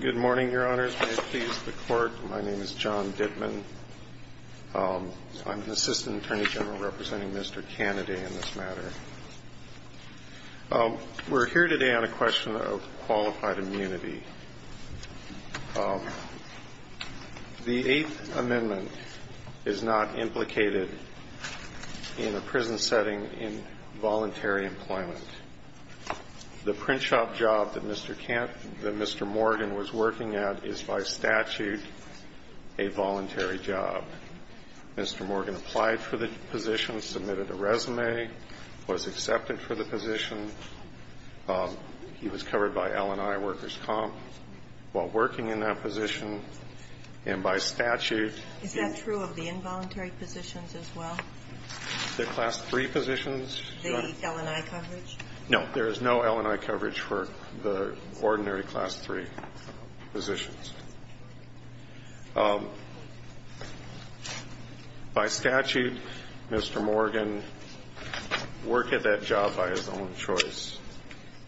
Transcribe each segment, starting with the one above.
Good morning, Your Honors. May it please the Court, my name is John Dittman. I'm an Assistant Attorney General representing Mr. Canady in this matter. We're here today on a question of qualified immunity. The Eighth Amendment is not implicated in a prison setting in voluntary employment. The print shop job that Mr. Morgan was working at is, by statute, a voluntary job. Mr. Morgan applied for the position, submitted a resume, was accepted for the position. He was covered by L&I Workers' Comp while working in that position, and by statute he was Is that true of the involuntary positions as well? The Class III positions? The L&I coverage? No. There is no L&I coverage for the ordinary Class III positions. By statute, Mr. Morgan worked at that job by his own choice.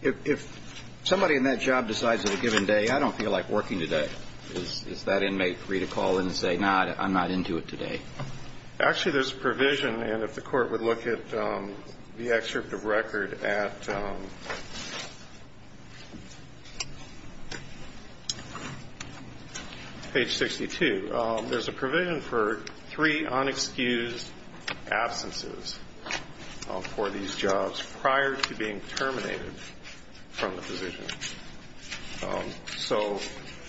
If somebody in that job decides at a given day, I don't feel like working today. Is that inmate free to call in and say, no, I'm not into it today? Actually, there's a provision, and if the Court would look at the excerpt of record at page 62, there's a provision for three unexcused absences for these jobs prior to being terminated from the position. So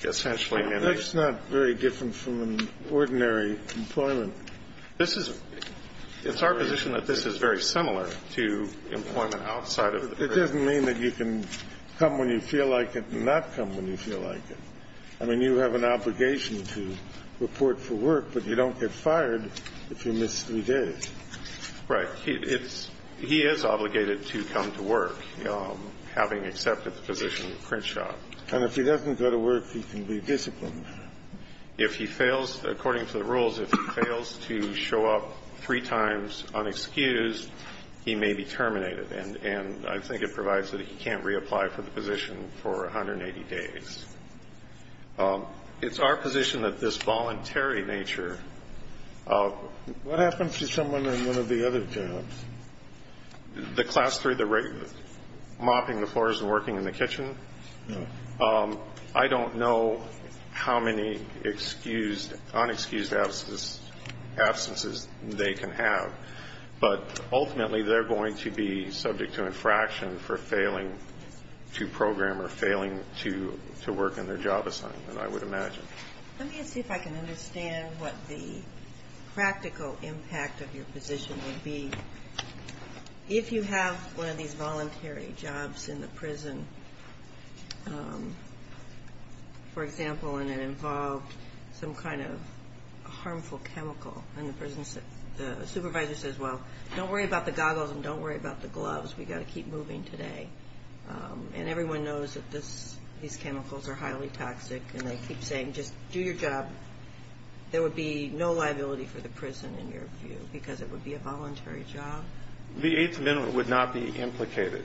essentially, in a ---- That's not very different from an ordinary employment. This is ---- It's our position that this is very similar to employment outside of the ---- It doesn't mean that you can come when you feel like it and not come when you feel like it. I mean, you have an obligation to report for work, but you don't get fired if you miss three days. Right. It's ---- He is obligated to come to work, having accepted the position at Crenshaw. And if he doesn't go to work, he can be disciplined. If he fails, according to the rules, if he fails to show up three times unexcused, he may be terminated. And I think it provides that he can't reapply for the position for 180 days. It's our position that this voluntary nature of ---- What happens to someone on one of the other jobs? The class three, the regular, mopping the floors and working in the kitchen? No. I don't know how many excused, unexcused absences they can have. But ultimately, they're going to be subject to infraction for failing to program or failing to work in their job assignment, I would imagine. Let me see if I can understand what the practical impact of your position would be. If you have one of these voluntary jobs in the prison, for example, and it involved some kind of harmful chemical and the supervisor says, well, don't worry about the goggles and don't worry about the gloves. We've got to keep moving today. And everyone knows that these chemicals are highly toxic. And they keep saying, just do your job. There would be no liability for the prison, in your view, because it would be a voluntary job? The Eighth Amendment would not be implicated.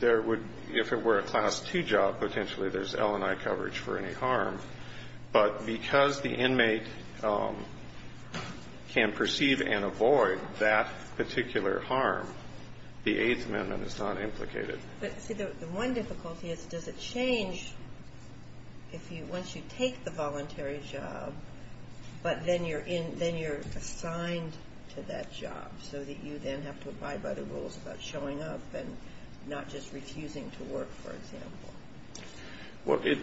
There would, if it were a class two job, potentially there's L&I coverage for any harm. But because the inmate can perceive and avoid that particular harm, the Eighth Amendment is not implicated. But, see, the one difficulty is, does it change if you ---- And then you're assigned to that job so that you then have to abide by the rules about showing up and not just refusing to work, for example. Well, it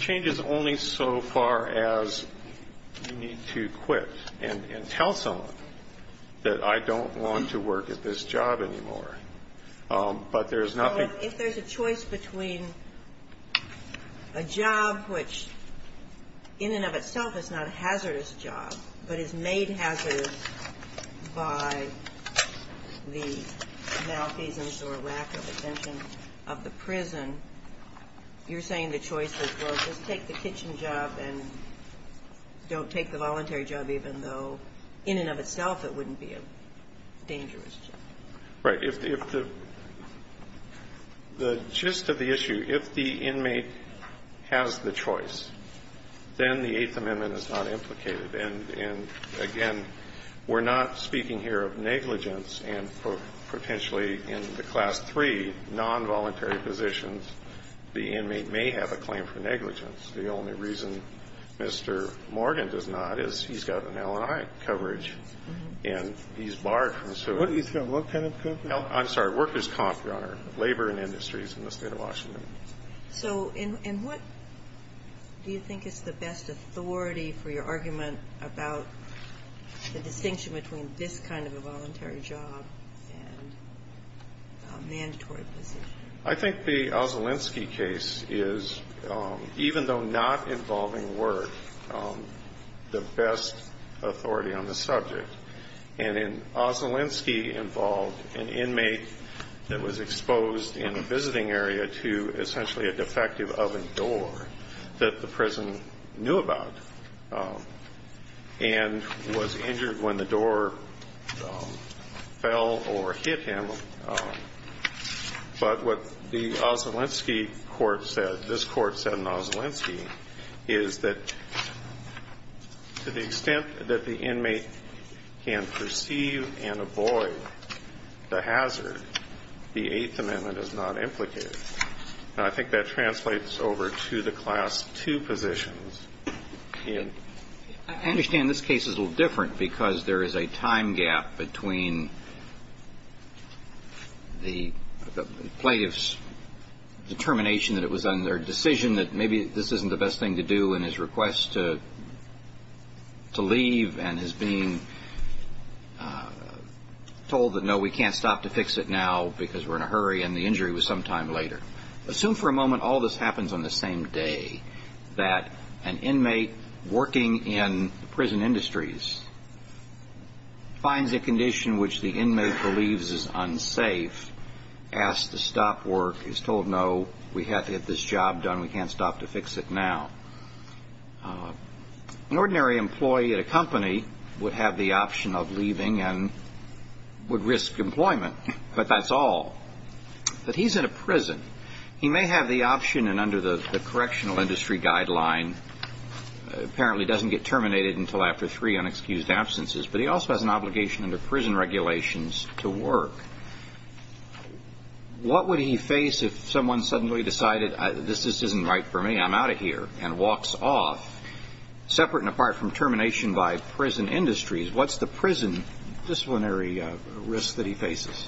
changes only so far as you need to quit and tell someone that I don't want to work at this job anymore. But there's nothing ---- If there's a choice between a job which, in and of itself, is not a hazardous job, but is made hazardous by the malfeasance or lack of exemption of the prison, you're saying the choice is, well, just take the kitchen job and don't take the voluntary job even though, in and of itself, it wouldn't be a dangerous job? Right. If the ---- the gist of the issue, if the inmate has the choice, then the Eighth Amendment is not implicated. And, again, we're not speaking here of negligence and potentially in the class three nonvoluntary positions, the inmate may have a claim for negligence. The only reason Mr. Morgan does not is he's got an L&I coverage and he's barred from serving. He's got what kind of coverage? I'm sorry. Worker's comp, Your Honor. Labor and Industries in the State of Washington. So in what do you think is the best authority for your argument about the distinction between this kind of a voluntary job and a mandatory position? I think the Ossolinsky case is, even though not involving work, the best authority on the subject. And in Ossolinsky involved an inmate that was exposed in a visiting area to essentially a defective oven door that the prison knew about and was injured when the door fell or hit him. But what the Ossolinsky court said, this court said in Ossolinsky, is that to the extent that the inmate can perceive and avoid the hazard, the Eighth Amendment is not implicated. And I think that translates over to the class two positions. I understand this case is a little different because there is a time gap between the plaintiff's determination that it was on their decision that maybe this isn't the best thing to do and his request to leave and his being told that, no, we can't stop to fix it now because we're in a hurry and the injury was some time later. Assume for a moment all this happens on the same day, that an inmate working in prison industries finds a condition which the inmate believes is unsafe, asks to stop work, is told, no, we have to get this job done, we can't stop to fix it now. An ordinary employee at a company would have the option of leaving and would risk employment, but that's all. But he's in a prison. He may have the option and under the correctional industry guideline, apparently doesn't get terminated until after three unexcused absences, but he also has an obligation under prison regulations to work. What would he face if someone suddenly decided this isn't right for me, I'm out of here, and walks off? Separate and apart from termination by prison industries, what's the prison disciplinary risk that he faces?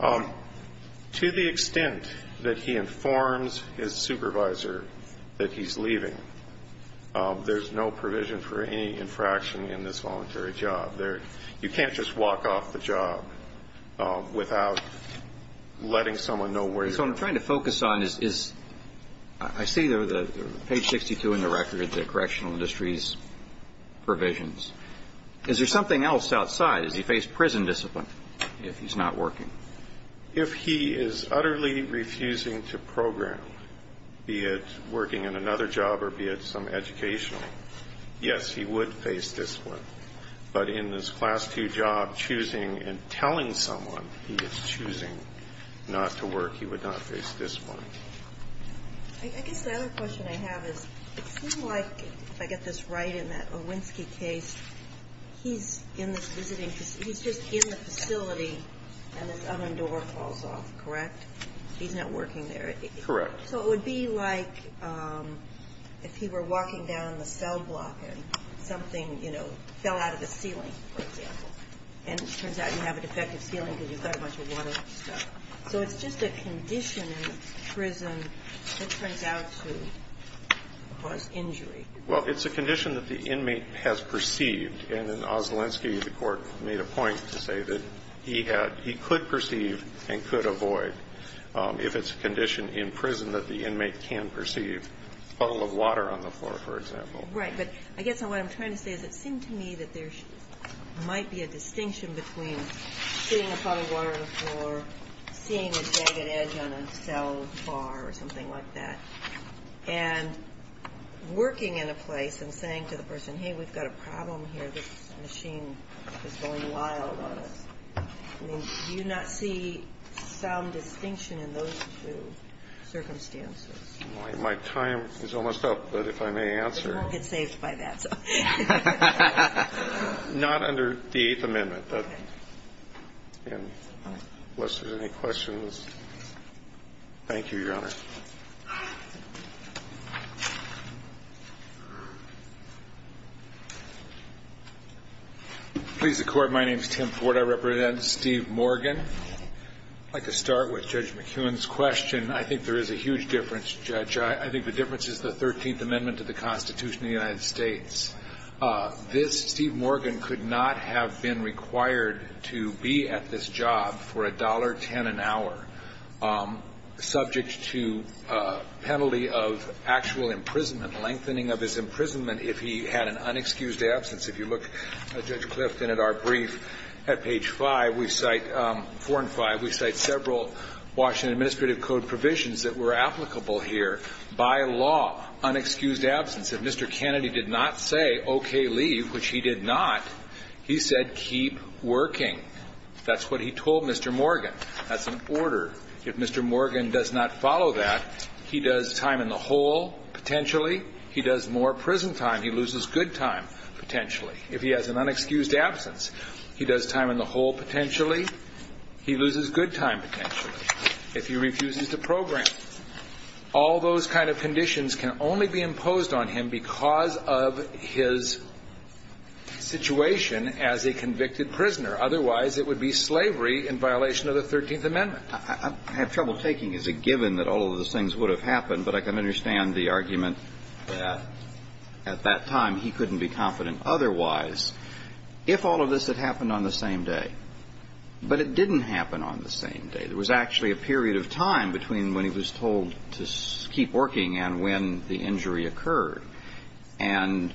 To the extent that he informs his supervisor that he's leaving, there's no provision for any infraction in this voluntary job. You can't just walk off the job without letting someone know where you are. So what I'm trying to focus on is, I see page 62 in the record, the correctional industry's provisions. Is there something else outside? Does he face prison discipline if he's not working? If he is utterly refusing to program, be it working in another job or be it some other job, if he's in this class two job choosing and telling someone he is choosing not to work, he would not face discipline. I guess the other question I have is, it seems like, if I get this right in that Owinski case, he's in this visiting facility. He's just in the facility and this oven door falls off, correct? He's not working there. Correct. So it would be like if he were walking down the cell block and something, you know, fell out of the ceiling, for example. And it turns out you have a defective ceiling because you've got a bunch of water and stuff. So it's just a condition in prison that turns out to cause injury. Well, it's a condition that the inmate has perceived. And in Owinski, the Court made a point to say that he had he could perceive and could avoid if it's a condition in prison that the inmate can perceive, a puddle of water on the floor, for example. Right. But I guess what I'm trying to say is it seemed to me that there might be a distinction between seeing a puddle of water on the floor, seeing a jagged edge on a cell bar or something like that, and working in a place and saying to the person, hey, we've got a problem here, this machine is going wild on us. I mean, do you not see some distinction in those two circumstances? My time is almost up, but if I may answer. We'll get saved by that. Not under the Eighth Amendment. Unless there's any questions. Thank you, Your Honor. Please, the Court. My name is Tim Ford. I represent Steve Morgan. I'd like to start with Judge McKeown's question. I think there is a huge difference, Judge. I think the difference is the Thirteenth Amendment to the Constitution of the United States. This Steve Morgan could not have been required to be at this job for $1.10 an hour subject to a penalty of actual imprisonment, lengthening of his imprisonment if he had an unexcused absence. If you look, Judge Clifton, at our brief at page five, we cite four and five. We cite several Washington Administrative Code provisions that were applicable here. By law, unexcused absence. If Mr. Kennedy did not say, okay, leave, which he did not, he said, keep working. That's what he told Mr. Morgan. That's an order. If Mr. Morgan does not follow that, he does time in the hole, potentially. He does more prison time. He loses good time, potentially. If he has an unexcused absence, he does time in the hole, potentially. He loses good time, potentially. If he refuses to program. All those kind of conditions can only be imposed on him because of his situation as a convicted prisoner. Otherwise, it would be slavery in violation of the Thirteenth Amendment. I have trouble taking as a given that all of those things would have happened, but I can understand the argument that at that time he couldn't be confident otherwise if all of this had happened on the same day. But it didn't happen on the same day. There was actually a period of time between when he was told to keep working and when the injury occurred. And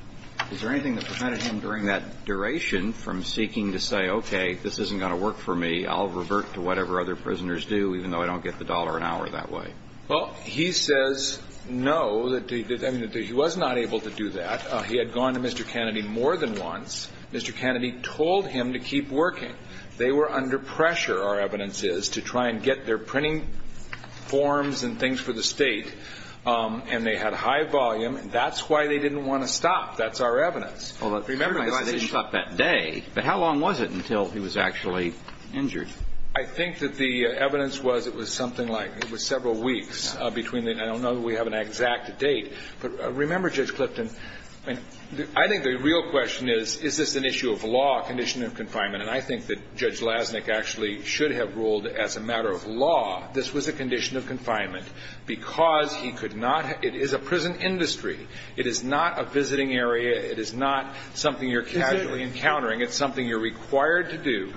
is there anything that prevented him during that duration from seeking to say, okay, this isn't going to work for me. I'll revert to whatever other prisoners do, even though I don't get the dollar an hour that way. Well, he says no. I mean, he was not able to do that. He had gone to Mr. Kennedy more than once. Mr. Kennedy told him to keep working. They were under pressure, our evidence is, to try and get their printing forms and things for the State, and they had high volume. That's why they didn't want to stop. That's our evidence. But remember, they didn't stop that day. But how long was it until he was actually injured? I think that the evidence was it was something like several weeks between then. I don't know that we have an exact date. But remember, Judge Clifton, I think the real question is, is this an issue of law, a condition of confinement? And I think that Judge Lasnik actually should have ruled as a matter of law this was a condition of confinement because he could not – it is a prison industry. It is not a visiting area. It is not something you're casually encountering. It's something you're required to do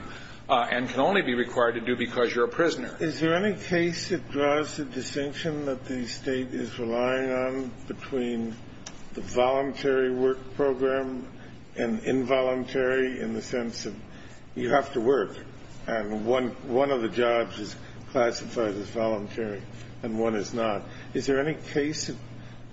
and can only be required to do because you're a prisoner. Is there any case that draws the distinction that the State is relying on between the voluntary work program and involuntary in the sense of you have to work and one of the jobs is classified as voluntary and one is not? Is there any case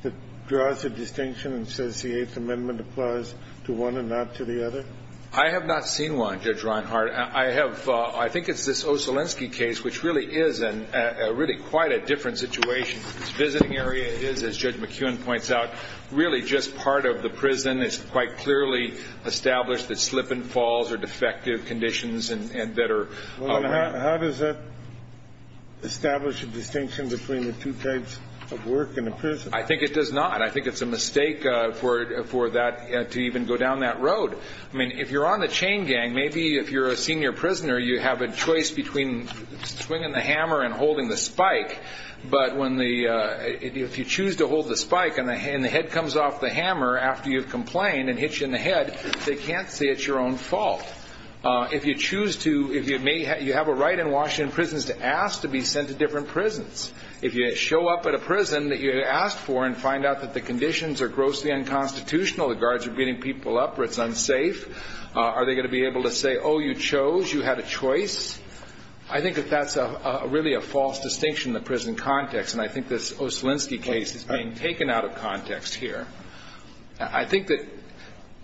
that draws a distinction and says the Eighth Amendment applies to one and not to the other? I have not seen one, Judge Reinhart. I have – I think it's this Ossolinsky case, which really is a really quite a different situation. Its visiting area is, as Judge McKeown points out, really just part of the prison. It's quite clearly established that slip and falls are defective conditions and that are – Well, how does that establish a distinction between the two types of work in a prison? I think it does not. I think it's a mistake for that to even go down that road. I mean, if you're on the chain gang, maybe if you're a senior prisoner, you have a choice between swinging the hammer and holding the spike. But when the – if you choose to hold the spike and the head comes off the hammer after you've complained and hits you in the head, they can't say it's your own fault. If you choose to – if you may – you have a right in Washington prisons to ask to be sent to different prisons. If you show up at a prison that you asked for and find out that the conditions are grossly unconstitutional, the guards are beating people up or it's unsafe, are they going to be able to say, oh, you chose, you had a choice? I think that that's really a false distinction in the prison context, and I think this Ossolinsky case is being taken out of context here. I think that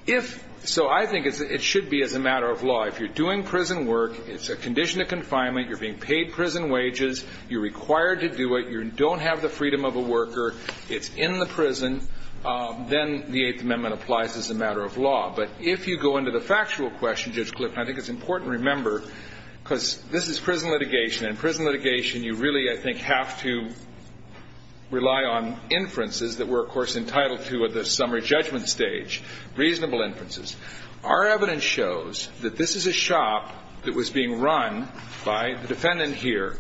if – so I think it should be as a matter of law. If you're doing prison work, it's a condition of confinement, you're being paid prison wages, you're required to do it, you don't have the freedom of a worker, it's in the prison, then the Eighth Amendment applies as a matter of law. But if you go into the factual question, Judge Clifton, I think it's important to remember, because this is prison litigation, and in prison litigation you really, I think, have to rely on inferences that we're, of course, entitled to at the summary judgment stage, reasonable inferences. Our evidence shows that this is a shop that was being run by the defendant here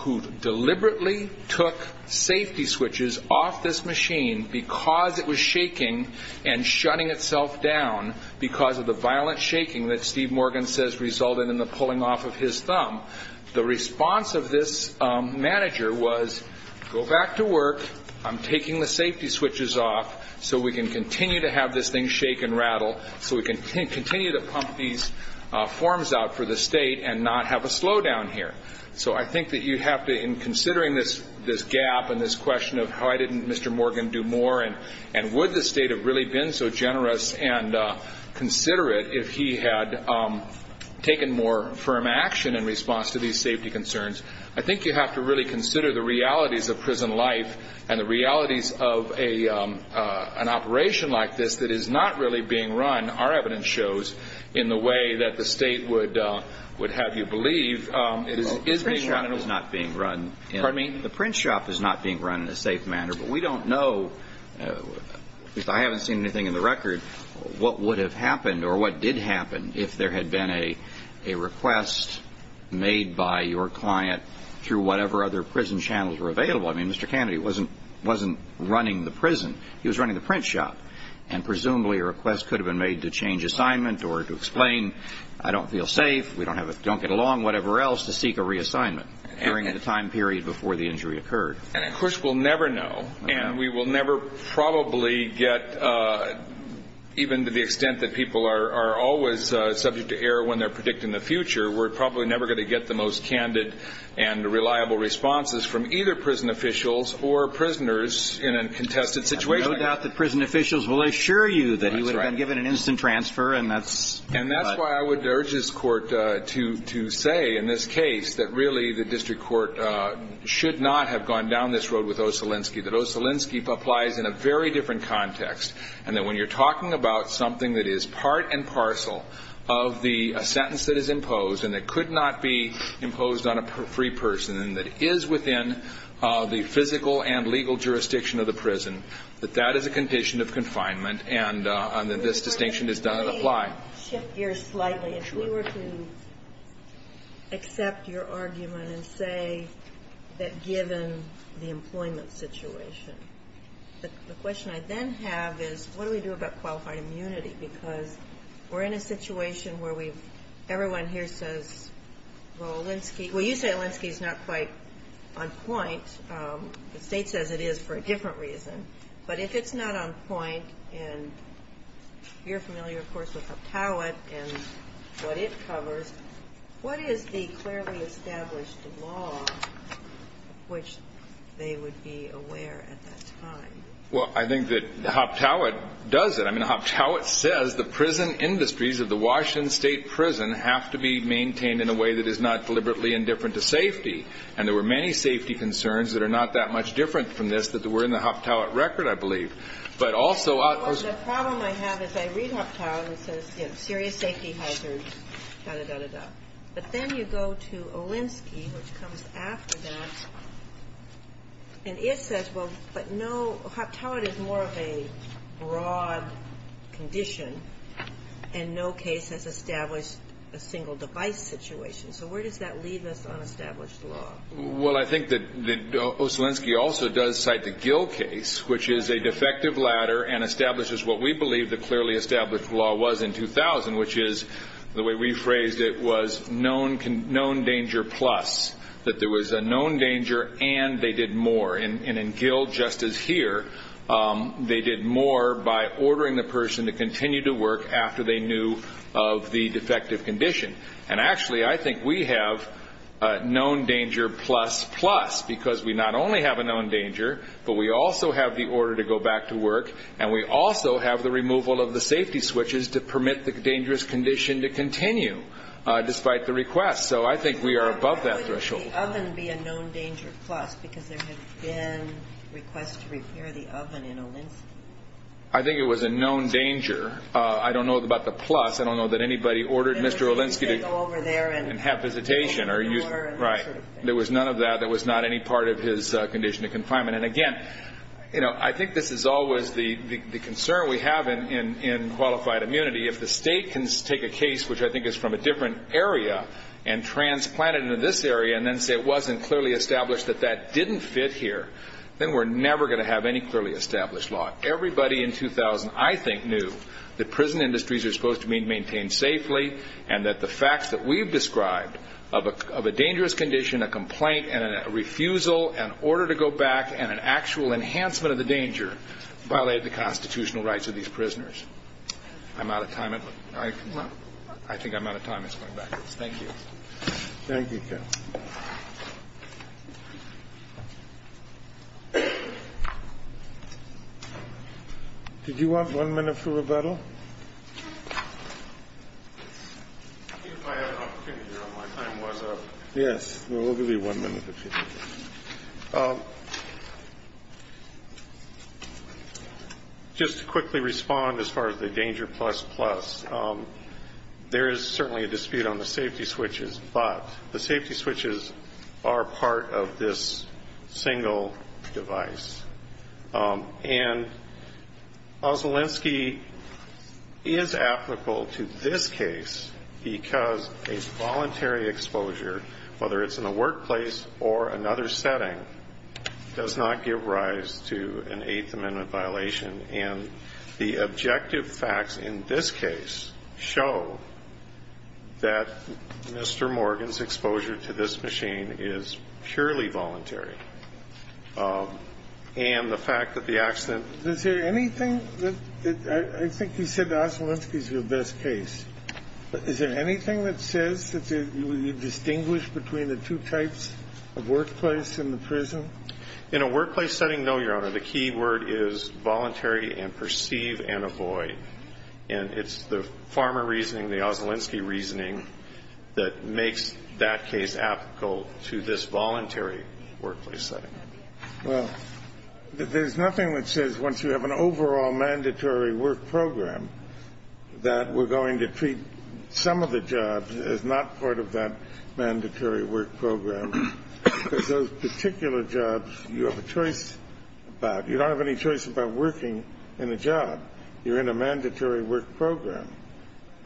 who deliberately took safety switches off this machine because it was shaking and shutting itself down because of the violent shaking that Steve Morgan says resulted in the pulling off of his thumb. The response of this manager was, go back to work, I'm taking the safety switches off so we can continue to have this thing shake and rattle, so we can continue to pump these forms out for the State and not have a slowdown here. So I think that you have to, in considering this gap and this question of why didn't Mr. Morgan do more and would the State have really been so generous and considerate if he had taken more firm action in response to these safety concerns, I think you have to really consider the realities of prison life and the realities of an operation like this that is not really being run, our evidence shows, in the way that the State would have you believe it is being run. The print shop is not being run in a safe manner, but we don't know, at least I haven't seen anything in the record, what would have happened or what did happen if there had been a request made by your client through whatever other prison channels were available. I mean, Mr. Kennedy wasn't running the prison, he was running the print shop, and presumably a request could have been made to change assignment or to explain, I don't feel safe, we don't get along, whatever else, to seek a reassignment during the time period before the injury occurred. And, of course, we'll never know, and we will never probably get, even to the extent that people are always subject to error when they're predicting the future, we're probably never going to get the most candid and reliable responses from either prison officials or prisoners in a contested situation. I have no doubt that prison officials will assure you that he would have been given an instant transfer. And that's why I would urge this Court to say, in this case, that really the district court should not have gone down this road with Ossolinsky, that Ossolinsky applies in a very different context, and that when you're talking about something that is part and parcel of the sentence that is imposed and that could not be imposed on a free person and that is within the physical and legal jurisdiction of the prison, that that is a condition of confinement and that this distinction is done to apply. I want to shift gears slightly. If we were to accept your argument and say that given the employment situation, the question I then have is, what do we do about qualified immunity? Because we're in a situation where everyone here says, well, Ossolinsky, well, you say Ossolinsky is not quite on point. The state says it is for a different reason. But if it's not on point, and you're familiar, of course, with Hoptowitt and what it covers, what is the clearly established law which they would be aware at that time? Well, I think that Hoptowitt does it. I mean, Hoptowitt says the prison industries of the Washington State Prison have to be maintained in a way that is not deliberately indifferent to safety. And there were many safety concerns that are not that much different from this that were in the Hoptowitt record, I believe. But also Ossolinsky. The problem I have is I read Hoptowitt and it says, you know, serious safety hazards, da, da, da, da, da. But then you go to Olinsky, which comes after that, and it says, well, but no, Hoptowitt is more of a broad condition and no case has established a single device situation. So where does that leave us on established law? Well, I think that Ossolinsky also does cite the Gill case, which is a defective ladder and establishes what we believe the clearly established law was in 2000, which is the way we phrased it was known danger plus, that there was a known danger and they did more. And in Gill, just as here, they did more by ordering the person to continue to work after they knew of the defective condition. And actually, I think we have known danger plus plus because we not only have a known danger, but we also have the order to go back to work, and we also have the removal of the safety switches to permit the dangerous condition to continue, despite the request. So I think we are above that threshold. Would the oven be a known danger plus because there had been requests to repair the oven in Olinsky? I think it was a known danger. I don't know about the plus. I don't know that anybody ordered Mr. Olinsky to go over there and have visitation. Right. There was none of that. That was not any part of his condition of confinement. And, again, I think this is always the concern we have in qualified immunity. If the state can take a case, which I think is from a different area, and transplant it into this area and then say it wasn't clearly established that that didn't fit here, then we're never going to have any clearly established law. Everybody in 2000, I think, knew that prison industries are supposed to be maintained safely and that the facts that we've described of a dangerous condition, a complaint, and a refusal, an order to go back, and an actual enhancement of the danger, violated the constitutional rights of these prisoners. I'm out of time. I think I'm out of time. It's going backwards. Thank you. Thank you, Ken. Did you want one minute for rebuttal? If I had an opportunity, my time was up. Yes. We'll give you one minute if you need it. Just to quickly respond as far as the danger plus plus. There is certainly a dispute on the safety switches, but the safety switches are part of this single device. And Osmolensky is applicable to this case because a voluntary exposure, whether it's in a workplace or another setting, does not give rise to an Eighth Amendment violation. And the objective facts in this case show that Mr. Morgan's exposure to this machine is purely voluntary. And the fact that the accident ---- Is there anything that ---- I think you said Osmolensky is your best case. Is there anything that says that you distinguish between the two types of workplace and the prison? In a workplace setting, no, Your Honor. The key word is voluntary and perceive and avoid. And it's the Farmer reasoning, the Osmolensky reasoning, that makes that case applicable to this voluntary workplace setting. Well, there's nothing that says once you have an overall mandatory work program that we're going to treat some of the jobs as not part of that mandatory work program. Because those particular jobs you have a choice about. You don't have any choice about working in a job. You're in a mandatory work program.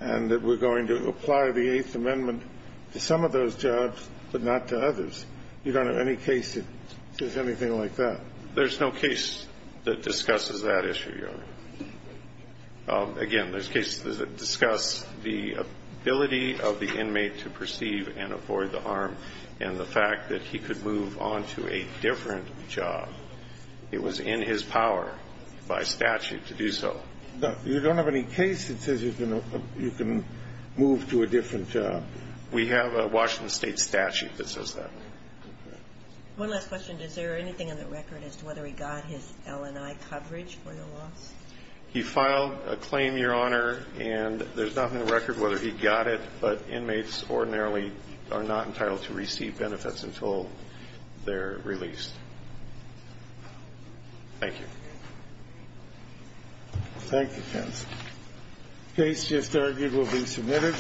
And that we're going to apply the Eighth Amendment to some of those jobs but not to others. You don't have any case that says anything like that. There's no case that discusses that issue, Your Honor. Again, there's cases that discuss the ability of the inmate to perceive and avoid the harm and the fact that he could move on to a different job. It was in his power by statute to do so. You don't have any case that says you can move to a different job? We have a Washington State statute that says that. One last question. Is there anything on the record as to whether he got his LNI coverage for the loss? He filed a claim, Your Honor, and there's nothing on the record whether he got it. But inmates ordinarily are not entitled to receive benefits until they're released. Thank you. Thank you, counsel. Case just argued will be submitted.